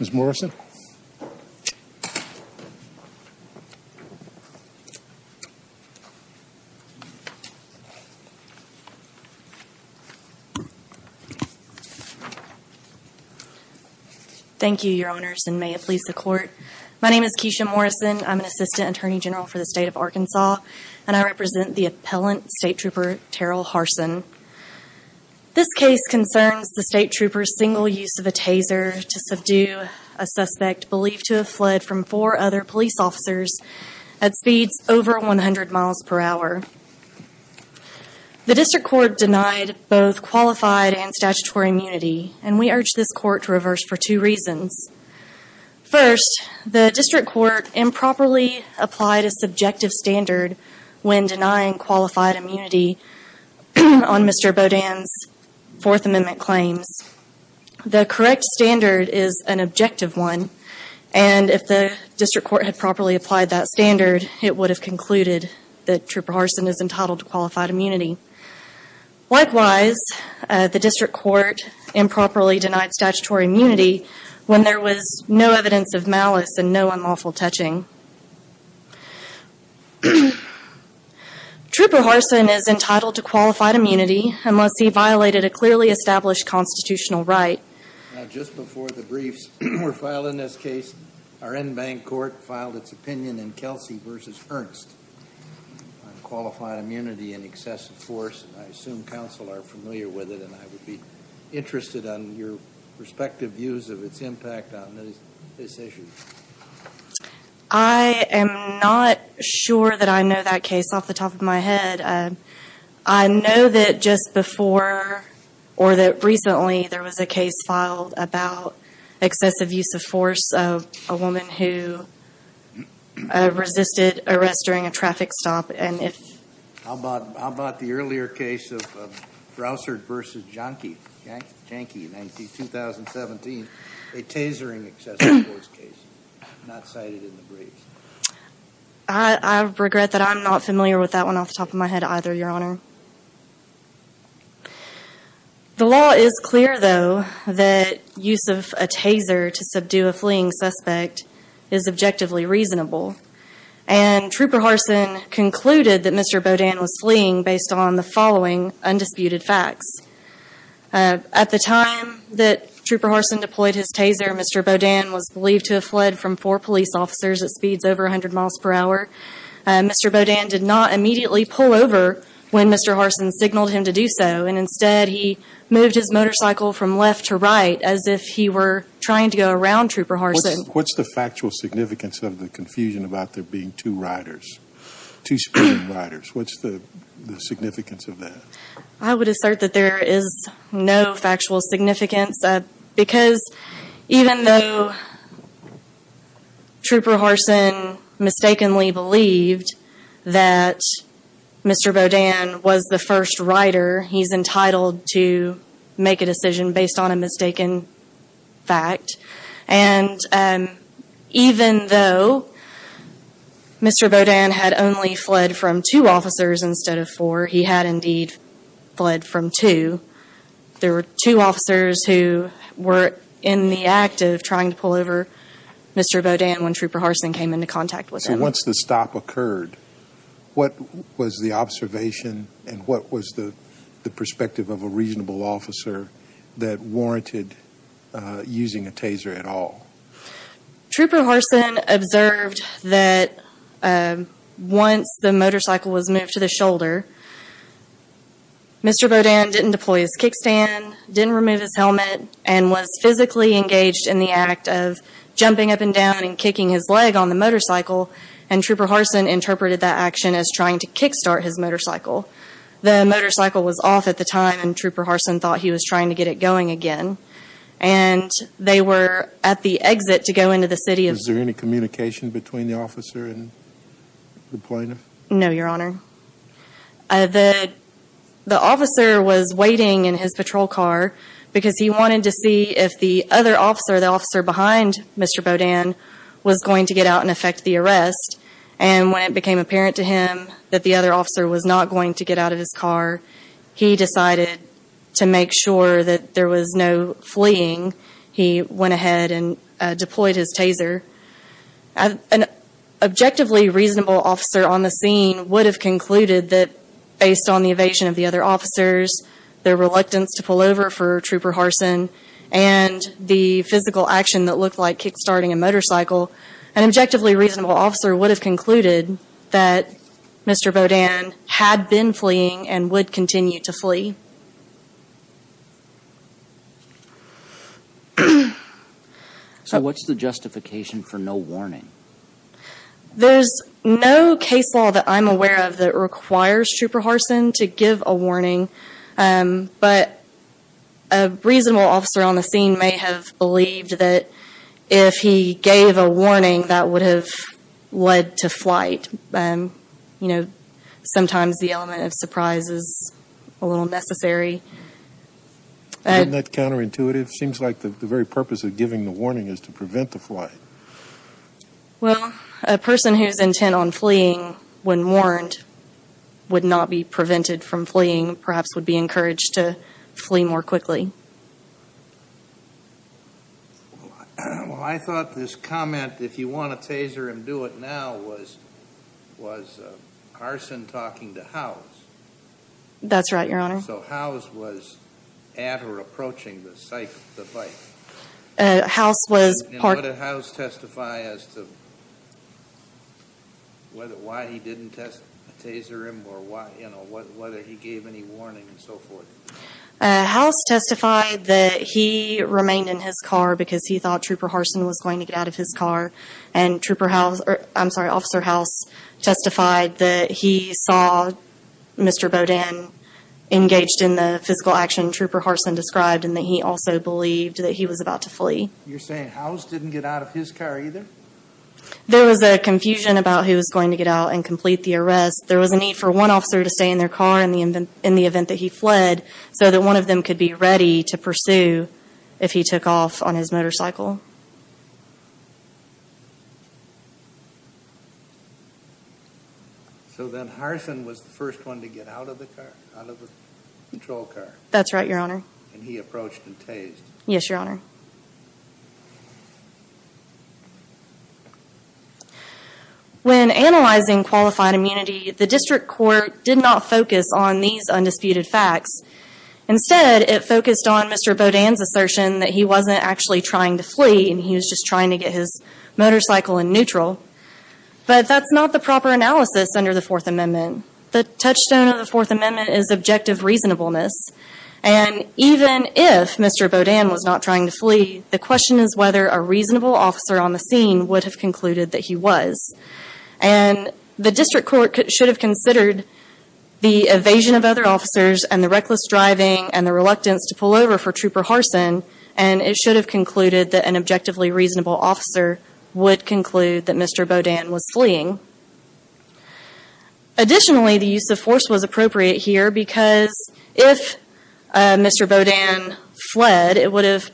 Ms. Morrison Thank you, Your Honors, and may it please the Court. My name is Keisha Morrison. I'm an Assistant Attorney General for the State of Arkansas, and I represent the appellant State Trooper Terral Harsson. This case concerns the State Trooper's single use of a taser to subdue a suspect believed to have fled from four other police officers at speeds over 100 miles per hour. The District Court denied both qualified and statutory immunity, and we urge this Court to reverse for two reasons. First, the District Court improperly applied a subjective standard when denying qualified immunity on Mr. Boudin's Fourth Amendment claims. The correct standard is an objective one, and if the District Court had properly applied that standard, it would have concluded that Trooper Harsson is entitled to qualified immunity. Likewise, the District Court improperly denied statutory immunity when there was no evidence of malice and no unlawful touching. Trooper Harsson is entitled to qualified immunity unless he violated a clearly established constitutional right. Now, just before the briefs were filed in this case, our en banc court filed its opinion in Kelsey v. Ernst on qualified immunity and excessive force, and I assume counsel are familiar with it, and I would be interested in your respective views of its impact on this issue. I am not sure that I know that case off the top of my head. I know that just before, or that recently, there was a case filed about excessive use of force of a woman who resisted arrest during a traffic stop, and if... How about the earlier case of Broussard v. Jahnke in 2017, a tasering excessive force case, not cited in the briefs? I regret that I'm not familiar with that one off the top of my head either, Your Honor. The law is clear, though, that use of a taser to subdue a fleeing suspect is objectively reasonable, and Trooper Harsson concluded that Mr. Bodan was fleeing based on the following undisputed facts. At the time that Trooper Harsson deployed his taser, Mr. Bodan was believed to have fled from four police officers at speeds over 100 miles per hour. Mr. Bodan did not immediately pull over when Mr. Harsson signaled him to do so, and instead he moved his motorcycle from left to right, as if he were trying to go around Trooper Harsson. What's the factual significance of the confusion about there being two riders, two speeding riders? What's the significance of that? I would assert that there is no factual significance, because even though Trooper Harsson mistakenly believed that Mr. Bodan was the first rider, he's entitled to make a decision based on a mistaken fact. And even though Mr. Bodan had only fled from two officers instead of four, he had indeed fled from two. There were two officers who were in the act of trying to pull over Mr. Bodan when Trooper Harsson came into contact with him. So once the stop occurred, what was the observation and what was the perspective of a reasonable officer that warranted using a taser at all? Trooper Harsson observed that once the motorcycle was moved to the shoulder, Mr. Bodan didn't deploy his kickstand, didn't remove his helmet, and was physically engaged in the act of jumping up and down and kicking his leg on the motorcycle, and Trooper Harsson interpreted that action as trying to kickstart his motorcycle. The motorcycle was off at the time, and Trooper Harsson thought he was trying to get it going again. And they were at the exit to go into the city of... Was there any communication between the officer and the deployment? No, Your Honor. The officer was waiting in his patrol car because he wanted to see if the other officer, the officer behind Mr. Bodan, was going to get out and effect the arrest. And when it became apparent to him that the other officer was not going to get out of his car, he decided to make sure that there was no fleeing. He went ahead and deployed his taser. An objectively reasonable officer on the scene would have concluded that based on the evasion of the other officers, their reluctance to pull over for Trooper Harsson, and the physical action that looked like kickstarting a motorcycle, an objectively reasonable officer would have concluded that Mr. Bodan had been fleeing and would continue to flee. So what's the justification for no warning? There's no case law that I'm aware of that requires Trooper Harsson to give a warning. But a reasonable officer on the scene may have believed that if he gave a warning, that would have led to flight. Sometimes the element of surprise is a little necessary. Isn't that counterintuitive? It seems like the very purpose of giving the warning is to prevent the flight. Well, a person who's intent on fleeing, when warned, would not be prevented from fleeing, perhaps would be encouraged to flee more quickly. Well, I thought this comment, if you want a taser and do it now, was Harsson talking to Howes. That's right, Your Honor. So Howes was at or approaching the site of the flight? Howes was part... And what did Howes testify as to why he didn't taser him or whether he gave any warning and so forth? Howes testified that he remained in his car because he thought Trooper Harsson was going to get out of his car, and Officer Howes testified that he saw Mr. Bodan engaging in some sort of physical action Trooper Harsson described, and that he also believed that he was about to flee. You're saying Howes didn't get out of his car either? There was a confusion about who was going to get out and complete the arrest. There was a need for one officer to stay in their car in the event that he fled, so that one of them could be ready to pursue if he took off on his motorcycle. So then Harsson was the first one to get out of the car, out of the control car? That's right, Your Honor. And he approached and tased? Yes, Your Honor. When analyzing qualified immunity, the District Court did not focus on these undisputed facts. Instead, it focused on Mr. Bodan's assertion that he wasn't actually trying to flee and he was just trying to get his motorcycle in neutral. But that's not the proper analysis under the Fourth Amendment. The touchstone of the Fourth Amendment is objective reasonableness. And even if Mr. Bodan was not trying to flee, the question is whether a reasonable officer on the scene would have concluded that he was. And the District Court should have considered the evasion of other officers and the reckless driving and the reluctance to pull over for Trooper Harsson, and it should have concluded that an objectively reasonable officer would conclude that Mr. Bodan was fleeing. Additionally, the use of force was appropriate here because if Mr. Bodan fled, it would have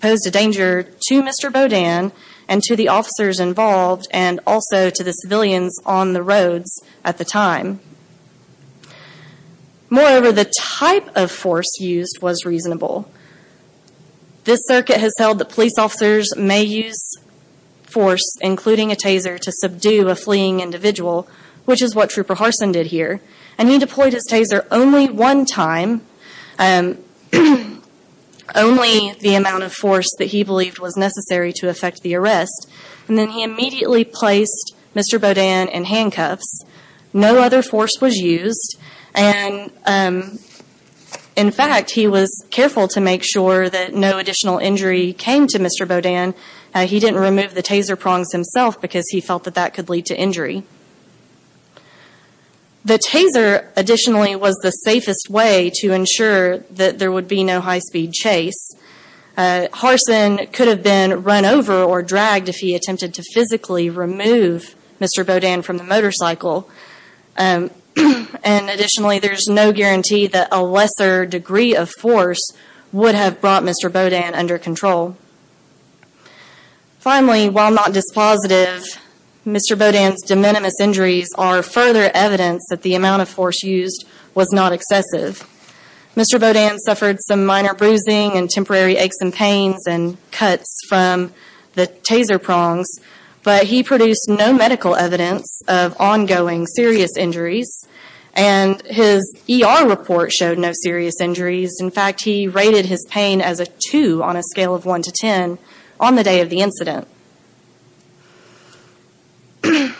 posed a danger to Mr. Bodan and to the officers involved and also to the civilians on the scene at the time. Moreover, the type of force used was reasonable. This Circuit has held that police officers may use force, including a taser, to subdue a fleeing individual, which is what Trooper Harsson did here. And he deployed his taser only one time, only the amount of force that he believed was necessary to effect the arrest. And then he immediately placed Mr. Bodan in handcuffs. No other force was used. And in fact, he was careful to make sure that no additional injury came to Mr. Bodan. He didn't remove the taser prongs himself because he felt that that could lead to injury. The taser, additionally, was the safest way to ensure that there would be no high-speed chase. Harsson could have been run over or dragged if he attempted to physically remove Mr. Bodan from the motorcycle. And additionally, there's no guarantee that a lesser degree of force would have brought Mr. Bodan under control. Finally, while not dispositive, Mr. Bodan's de minimis injuries are further evidence that the amount of force used was not excessive. Mr. Bodan suffered some minor bruising and temporary aches and pains and cuts from the taser prongs, but he produced no medical evidence of ongoing serious injuries. And his ER report showed no serious injuries. In fact, he rated his pain as a 2 on a scale of 1 to 10 on the day of the incident. The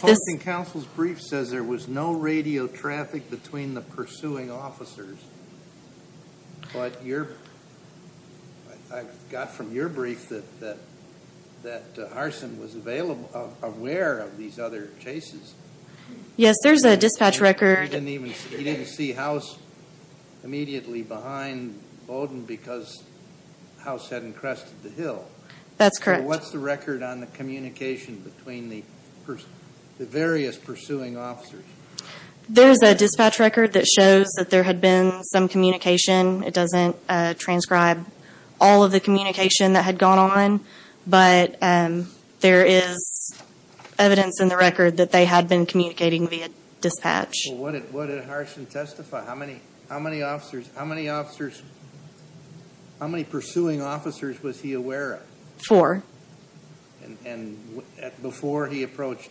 hosting council's brief says there was no radio traffic between the pursuing officers, but I got from your brief that Harsson was aware of these other chases. Yes, there's a dispatch record. He didn't see House immediately behind Bodan because House had encrusted the hill. That's correct. What's the record on the communication between the various pursuing officers? There's a dispatch record that shows that there had been some communication. It doesn't transcribe all of the communication that had gone on, but there is evidence in the record that they had been communicating via dispatch. What did Harsson testify? How many pursuing officers was he aware of? Four. And before he approached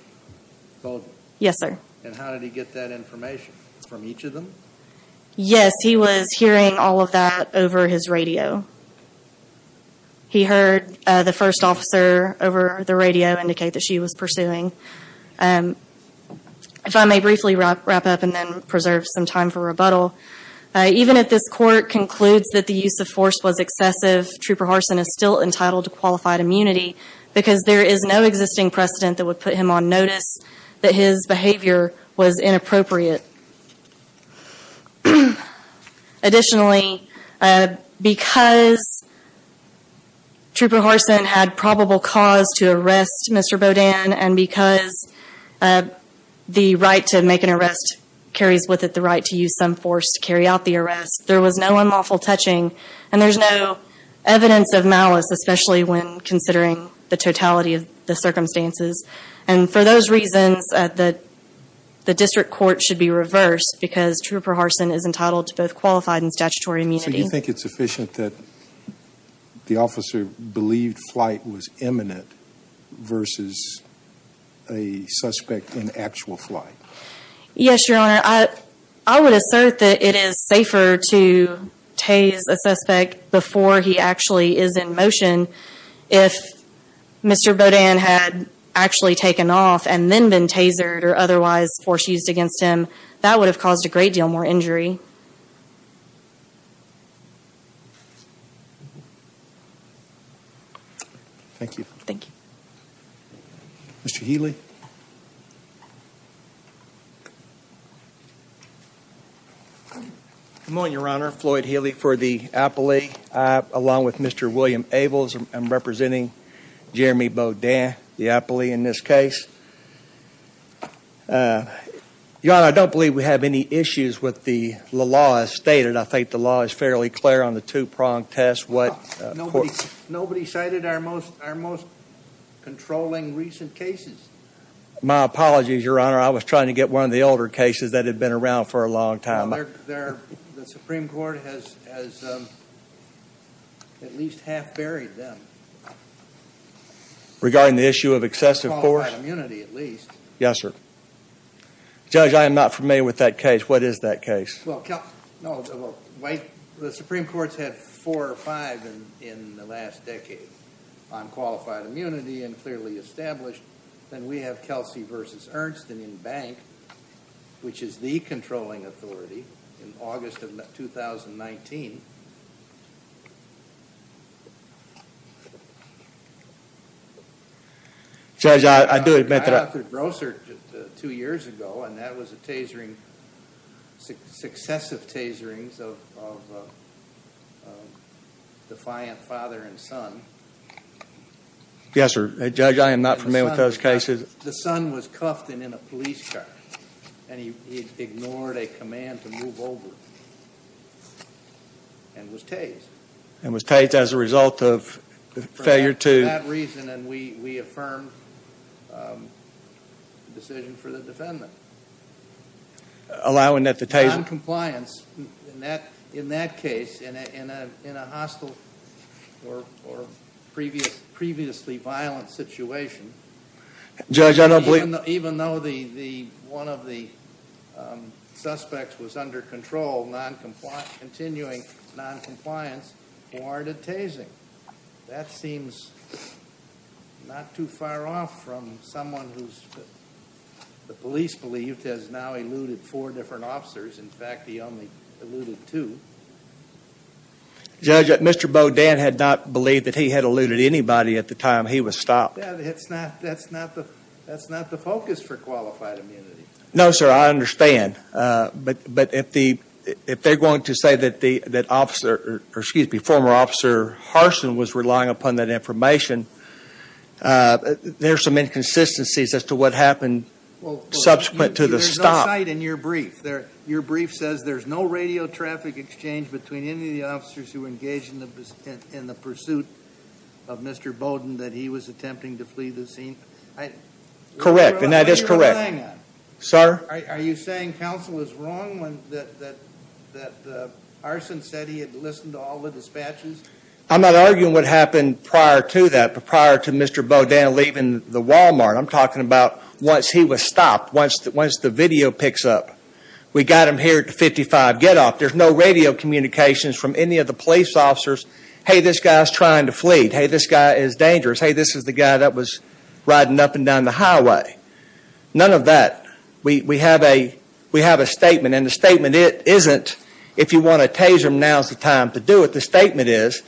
Bodan? Yes, sir. And how did he get that information? From each of them? Yes, he was hearing all of that over his radio. He heard the first officer over the radio indicate that she was pursuing. If I may briefly wrap up and then preserve some time for rebuttal. Even if this court concludes that the use of force was excessive, Trooper Harsson is still entitled to qualified immunity because there is no existing precedent that would put him on notice that his behavior was inappropriate. Additionally, because Trooper Harsson had probable cause to arrest Mr. Bodan and because the right to make an arrest carries with it the right to use some force to carry out the arrest, there was no unlawful touching and there is no evidence of malice, especially when considering the totality of the circumstances. And for those reasons, the district court should be reversed because Trooper Harsson is entitled to both qualified and statutory immunity. So you think it's sufficient that the officer believed flight was imminent versus a suspect in actual flight? Yes, Your Honor. I would assert that it is safer to tase a suspect before he actually is in motion. If Mr. Bodan had actually taken off and then been tasered or otherwise force used against him, that would have caused a great deal more injury. Thank you. Thank you. Mr. Healy. Good morning, Your Honor. Floyd Healy for the appellate along with Mr. William Ables. I'm representing Jeremy Bodan, the appellate in this case. Your Honor, I don't believe we have any issues with the law as stated. I think the law is fairly clear on the two-pronged test. Nobody cited our most controlling recent cases. My apologies, Your Honor. I was trying to get one of the older cases that had been around for a long time. The Supreme Court has at least half buried them. Regarding the issue of excessive force? Qualified immunity, at least. Yes, sir. Judge, I am not familiar with that case. What is that case? The Supreme Court has had four or five in the last decade on qualified immunity and clearly established. Then we have Kelsey v. Ernst in Bank, which is the controlling authority in August of 2019. Judge, I do admit that... I authored Grosser two years ago and that was a tasering, successive taserings of defiant father and son. Yes, sir. Judge, I am not familiar with those cases. The son was cuffed and in a police car and he ignored a command to move over. And was tased. And was tased as a result of failure to... For that reason and we affirmed the decision for the defendant. Allowing that the taser... Noncompliance in that case in a hostile or previously violent situation. Judge, I don't believe... Continuing noncompliance warranted tasing. That seems not too far off from someone who's... The police believed has now eluded four different officers. In fact, he only eluded two. Judge, Mr. Bodin had not believed that he had eluded anybody at the time he was stopped. That's not the focus for qualified immunity. No, sir. I understand. But if the... If they're going to say that the... That officer... Excuse me, former officer Harsin was relying upon that information. There's some inconsistencies as to what happened subsequent to the stop. In your brief there... Your brief says there's no radio traffic exchange between any of the officers who engaged in the pursuit of Mr. Bodin that he was attempting to flee the scene. Correct. And that is correct. Sir? Are you saying counsel was wrong when... That Harsin said he had listened to all the dispatches? I'm not arguing what happened prior to that. But prior to Mr. Bodin leaving the Walmart, I'm talking about once he was stopped. Once the video picks up. We got him here at the 55 Getoff. There's no radio communications from any of the police officers. Hey, this guy's trying to flee. Hey, this guy is dangerous. Hey, this is the guy that was riding up and down the highway. None of that. We have a statement. And the statement isn't, if you want to tase him, now's the time to do it. The statement is,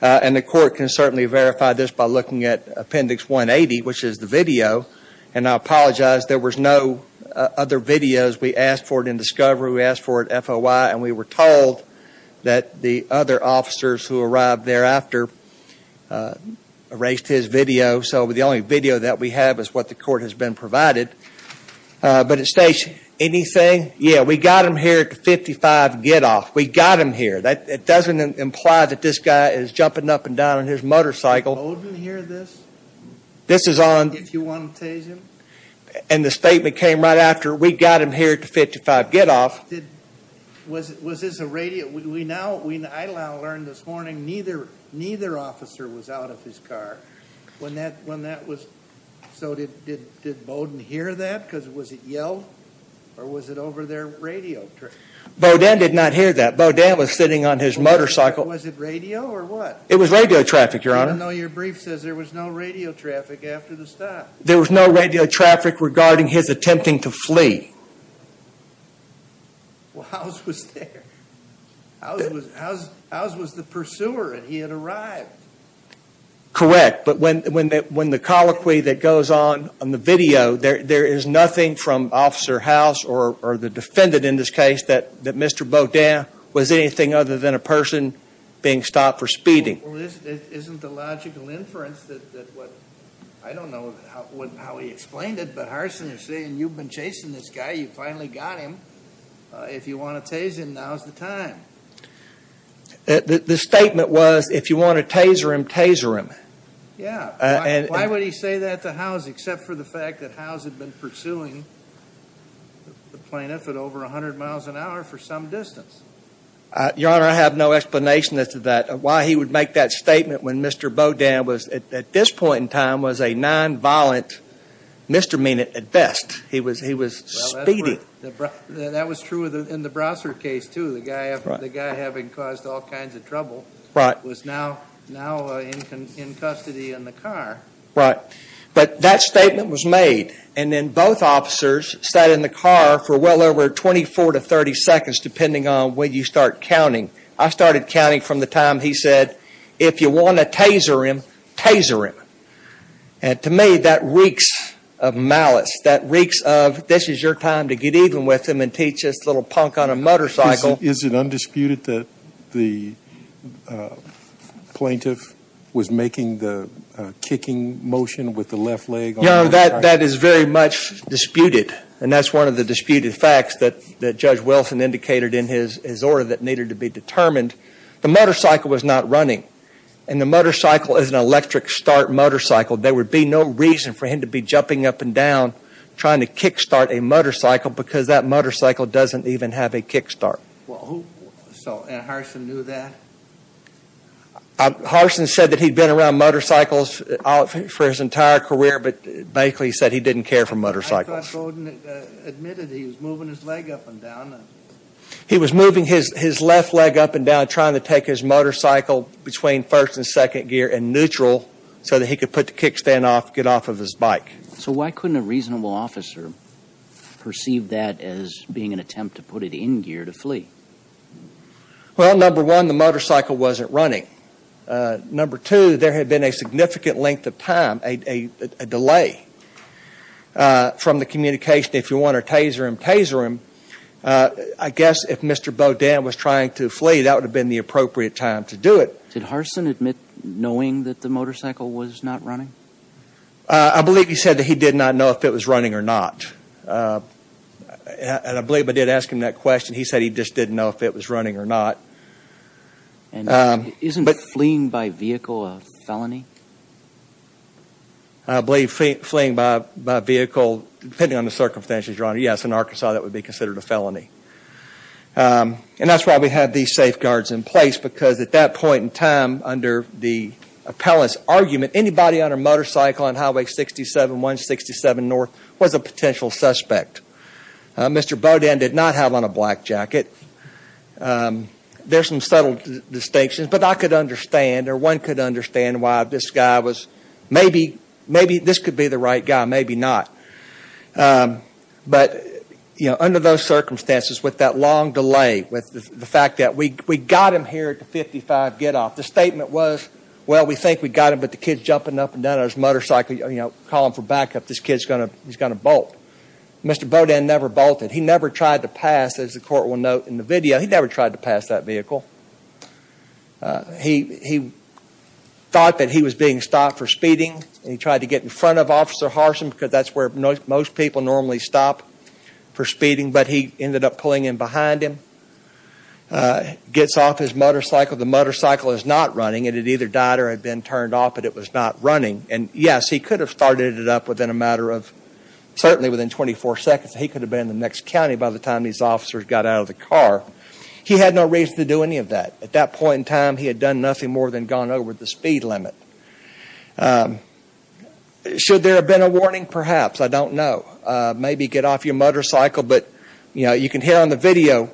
and the court can certainly verify this by looking at appendix 180, which is the video. And I apologize. There was no other videos. We asked for it in discovery. We asked for it FOI. And we were told that the other officers who arrived thereafter erased his video. So the only video that we have is what the court has been provided. But it states, anything? Yeah, we got him here at the 55 Getoff. We got him here. That doesn't imply that this guy is jumping up and down on his motorcycle. Did Bodin hear this? This is on... If you want to tase him. And the statement came right after, we got him here at the 55 Getoff. Was this a radio? We now, I now learned this morning, neither officer was out of his car. When that was, so did Bodin hear that? Because was it yelled? Or was it over their radio? Bodin did not hear that. Bodin was sitting on his motorcycle. Was it radio or what? It was radio traffic, your honor. I know your brief says there was no radio traffic after the stop. There was no radio traffic regarding his attempting to flee. Well, Howes was there. Howes was the pursuer and he had arrived. Correct. But when the colloquy that goes on, on the video, there is nothing from Officer Howes or the defendant in this case that Mr. Bodin was anything other than a person being stopped for speeding. Well, isn't the logical inference that what, I don't know how he explained it, but Harsin is saying you've been chasing this guy, you finally got him. If you want to tase him, now is the time. The statement was if you want to taser him, taser him. Yeah. Why would he say that to Howes except for the fact that Howes had been pursuing the plaintiff at over 100 miles an hour for some distance? Your honor, I have no explanation as to that. Why he would make that statement when Mr. Bodin was, at this point in time, was a non-violent misdemeanor at best. He was speeding. That was true in the Brossard case, too. The guy having caused all kinds of trouble was now in custody in the car. Right. But that statement was made and then both officers sat in the car for well over 24 to 30 seconds depending on when you start counting. I started counting from the time he said, if you want to taser him, taser him. And to me, that reeks of malice. That reeks of this is your time to get even with him and teach this little punk on a motorcycle. Is it undisputed that the plaintiff was making the kicking motion with the left leg? Your honor, that is very much disputed. And that is one of the disputed facts that Judge Wilson indicated in his order that needed to be determined. The motorcycle was not running. And the motorcycle is an electric start motorcycle. There would be no reason for him to be jumping up and down trying to kick start a motorcycle because that motorcycle doesn't even have a kick start. And Harson knew that? Harson said that he'd been around motorcycles for his entire career, but basically he said he didn't care for motorcycles. I thought Gordon admitted he was moving his leg up and down. He was moving his left leg up and down trying to take his motorcycle between first and second gear and neutral so that he could put the kick stand off, get off of his bike. So why couldn't a reasonable officer perceive that as being an attempt to put it in gear to flee? Well, number one, the motorcycle wasn't running. Number two, there had been a significant length of time, a delay from the communication, if you want to taser him, taser him. I guess if Mr. Bodin was trying to flee, that would have been the appropriate time to do it. Did Harson admit knowing that the motorcycle was not running? I believe he said that he did not know if it was running or not. And I believe I did ask him that question. He said he just didn't know if it was running or not. Isn't fleeing by vehicle a felony? I believe fleeing by vehicle, depending on the circumstances, Your Honor, yes, in Arkansas that would be considered a felony. And that's why we had these safeguards in place because at that point in time, under the appellant's argument, anybody on a motorcycle on Highway 67, 167 North was a potential suspect. Mr. Bodin did not have on a black jacket. There's some subtle distinctions, but I could understand or one could understand why this guy was, maybe this could be the right guy, maybe not. But, you know, under those circumstances, with that long delay, with the fact that we got him here at the 55 getoff, the statement was, well, we think we got him, but the kid's jumping up and down on his motorcycle, you know, calling for backup, this kid's going to bolt. Mr. Bodin never bolted. He never tried to pass, as the Court will note in the video, he never tried to pass that vehicle. He thought that he was being stopped for speeding, and he tried to get in front of Officer Harson because that's where most people normally stop for speeding, but he ended up pulling in behind him, gets off his motorcycle. The motorcycle is not running. It had either died or had been turned off, but it was not running. And, yes, he could have started it up within a matter of, certainly within 24 seconds. He could have been in the next county by the time these officers got out of the car. He had no reason to do any of that. At that point in time, he had done nothing more than gone over the speed limit. Should there have been a warning? Perhaps. I don't know. Maybe get off your motorcycle, but you can hear on the video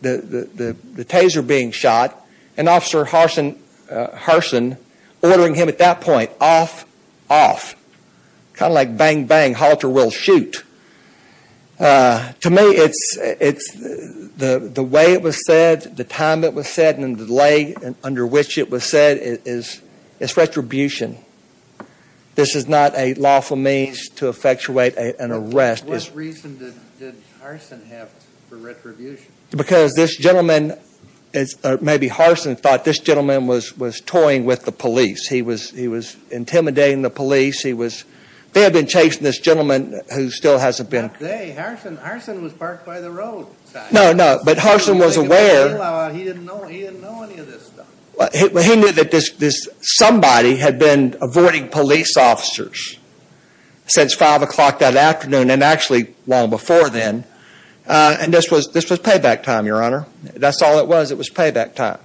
the taser being shot and Officer Harson ordering him at that point, off, off. Kind of like bang, bang, halter, will, shoot. To me, it's the way it was said, the time it was said, and the delay under which it was said. It's retribution. This is not a lawful means to effectuate an arrest. What reason did Harson have for retribution? Because this gentleman, maybe Harson thought this gentleman was toying with the police. He was intimidating the police. They had been chasing this gentleman who still hasn't been. Not they. Harson was parked by the roadside. No, no. But Harson was aware. He didn't know any of this stuff. He knew that this somebody had been avoiding police officers since 5 o'clock that afternoon and actually long before then. And this was payback time, Your Honor. That's all it was. It was payback time.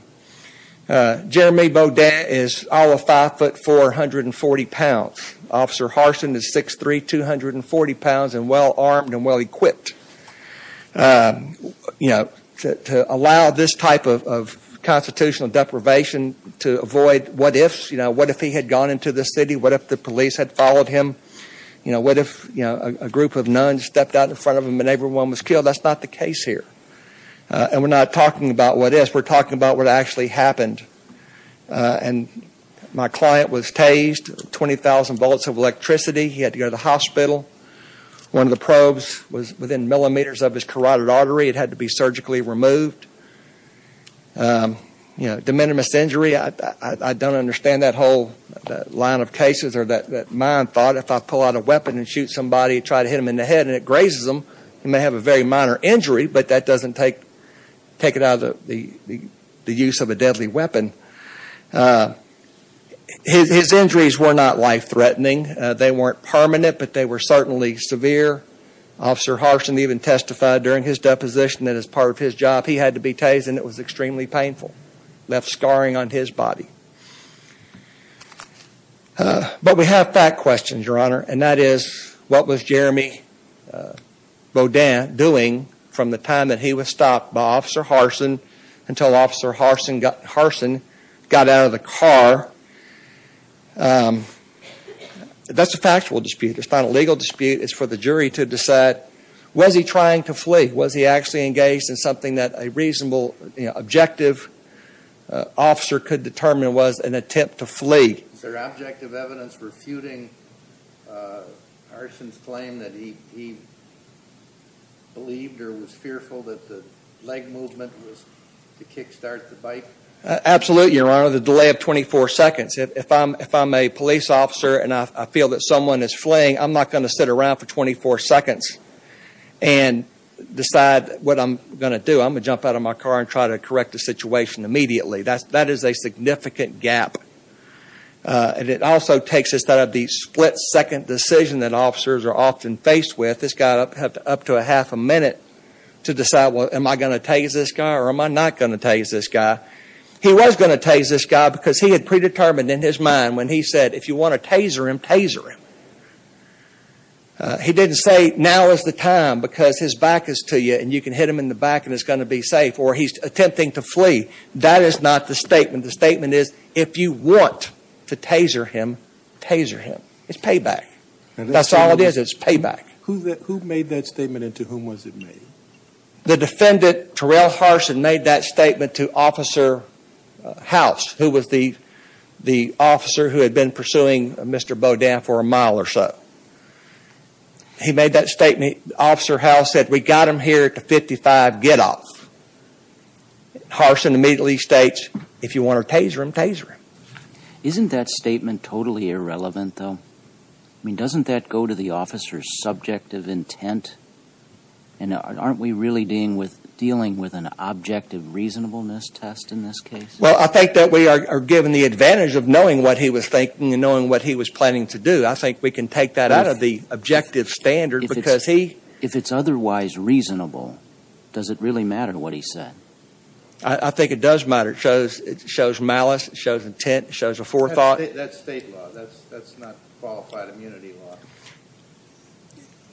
Jeremy Beaudet is all of 5'4", 140 pounds. Officer Harson is 6'3", 240 pounds and well-armed and well-equipped. You know, to allow this type of constitutional deprivation to avoid what ifs. You know, what if he had gone into the city? What if the police had followed him? You know, what if a group of nuns stepped out in front of him and everyone was killed? That's not the case here. And we're not talking about what ifs. We're talking about what actually happened. And my client was tased. 20,000 volts of electricity. He had to go to the hospital. One of the probes was within millimeters of his carotid artery. It had to be surgically removed. You know, de minimis injury. I don't understand that whole line of cases or that mind thought. If I pull out a weapon and shoot somebody and try to hit them in the head and it grazes them, you may have a very minor injury, but that doesn't take it out of the use of a deadly weapon. His injuries were not life-threatening. They weren't permanent, but they were certainly severe. Officer Harsin even testified during his deposition that as part of his job, he had to be tased and it was extremely painful. Left scarring on his body. But we have fact questions, Your Honor, and that is what was Jeremy Bodin doing from the time that he was stopped by Officer Harsin until Officer Harsin got out of the car. That's a factual dispute. It's not a legal dispute. It's for the jury to decide, was he trying to flee? Was he actually engaged in something that a reasonable, objective officer could determine was an attempt to flee? Is there objective evidence refuting Harsin's claim that he believed or was fearful that the leg movement was to kick-start the fight? Absolutely, Your Honor. The delay of 24 seconds. If I'm a police officer and I feel that someone is fleeing, I'm not going to sit around for 24 seconds and decide what I'm going to do. I'm going to jump out of my car and try to correct the situation immediately. That is a significant gap. And it also takes us out of the split-second decision that officers are often faced with. This guy had up to a half a minute to decide, well, am I going to tase this guy or am I not going to tase this guy? He was going to tase this guy because he had predetermined in his mind when he said, if you want to taser him, taser him. He didn't say, now is the time because his back is to you and you can hit him in the back and it's going to be safe. Therefore, he's attempting to flee. That is not the statement. The statement is, if you want to taser him, taser him. It's payback. That's all it is. It's payback. Who made that statement and to whom was it made? The defendant, Terrell Harson, made that statement to Officer House, who was the officer who had been pursuing Mr. Bodin for a mile or so. He made that statement. Officer House said, we got him here at the 55, get off. Harson immediately states, if you want to taser him, taser him. Isn't that statement totally irrelevant, though? I mean, doesn't that go to the officer's subjective intent? And aren't we really dealing with an objective reasonableness test in this case? Well, I think that we are given the advantage of knowing what he was thinking and knowing what he was planning to do. I think we can take that out of the objective standard. If it's otherwise reasonable, does it really matter what he said? I think it does matter. It shows malice. It shows intent. It shows a forethought. That's state law. That's not qualified immunity law.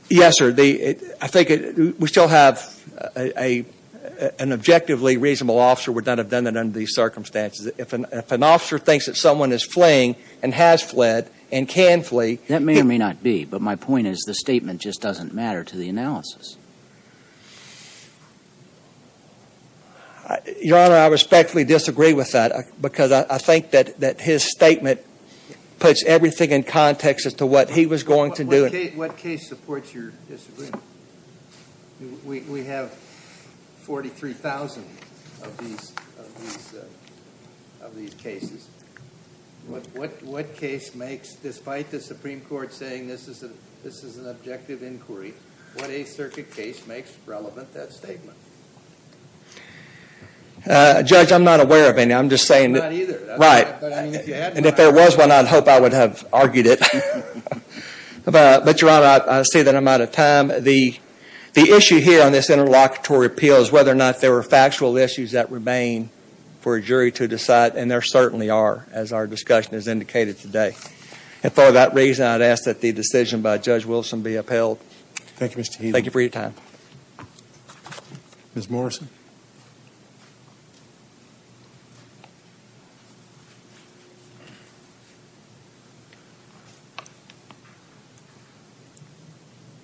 Yes, sir. I think we still have an objectively reasonable officer would not have done it under these circumstances. If an officer thinks that someone is fleeing and has fled and can flee. That may or may not be. But my point is the statement just doesn't matter to the analysis. Your Honor, I respectfully disagree with that. Because I think that his statement puts everything in context as to what he was going to do. What case supports your disagreement? We have 43,000 of these cases. What case makes, despite the Supreme Court saying this is an objective inquiry, what Eighth Circuit case makes relevant that statement? Judge, I'm not aware of any. I'm just saying. I'm not either. Right. And if there was one, I'd hope I would have argued it. But, Your Honor, I see that I'm out of time. The issue here on this interlocutory appeal is whether or not there were factual issues that remain for a jury to decide. And there certainly are, as our discussion has indicated today. And for that reason, I'd ask that the decision by Judge Wilson be upheld. Thank you, Mr. Heath. Thank you for your time. Ms. Morrison.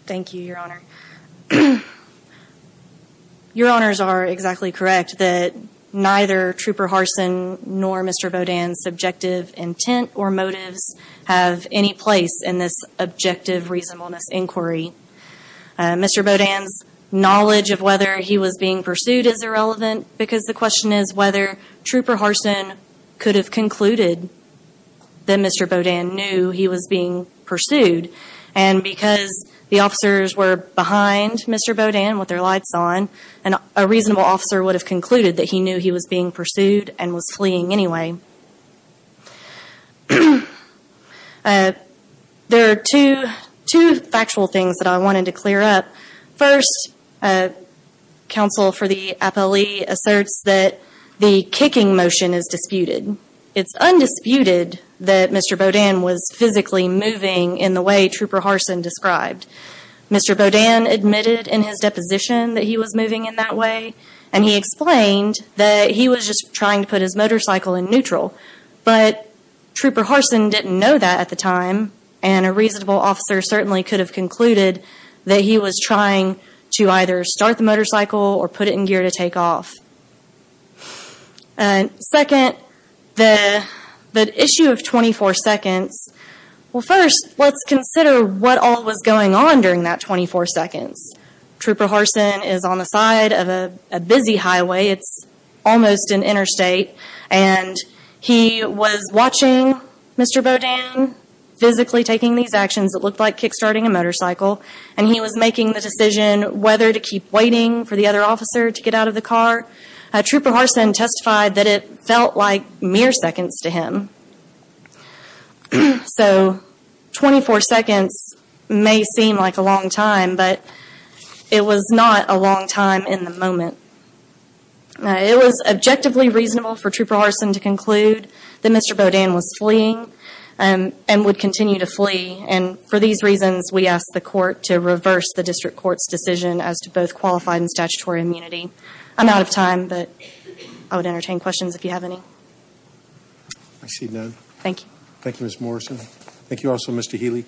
Thank you, Your Honor. Your Honors are exactly correct that neither Trooper Harsin nor Mr. Bodan's subjective intent or motives have any place in this objective reasonableness inquiry. Mr. Bodan's knowledge of whether he was being pursued is irrelevant, because the question is whether Trooper Harsin could have concluded that Mr. Bodan knew he was being pursued. And because the officers were behind Mr. Bodan with their lights on, a reasonable officer would have concluded that he knew he was being pursued and was fleeing anyway. There are two factual things that I wanted to clear up. First, counsel for the appellee asserts that the kicking motion is disputed. It's undisputed that Mr. Bodan was physically moving in the way Trooper Harsin described. Mr. Bodan admitted in his deposition that he was moving in that way, and he explained that he was just trying to put his motorcycle in neutral. But Trooper Harsin didn't know that at the time, and a reasonable officer certainly could have concluded that he was trying to either start the motorcycle or put it in gear to take off. Second, the issue of 24 seconds. Well first, let's consider what all was going on during that 24 seconds. Trooper Harsin is on the side of a busy highway, it's almost an interstate, and he was watching Mr. Bodan physically taking these actions that looked like kick-starting a motorcycle, and he was making the decision whether to keep waiting for the other officer to get out of the car. Trooper Harsin testified that it felt like mere seconds to him. So 24 seconds may seem like a long time, but it was not a long time in the moment. It was objectively reasonable for Trooper Harsin to conclude that Mr. Bodan was fleeing and would continue to flee, and for these reasons we ask the court to reverse the district court's decision as to both qualified and statutory immunity. I'm out of time, but I would entertain questions if you have any. I see none. Thank you. Thank you, Ms. Morrison. Thank you also, Mr. Healy.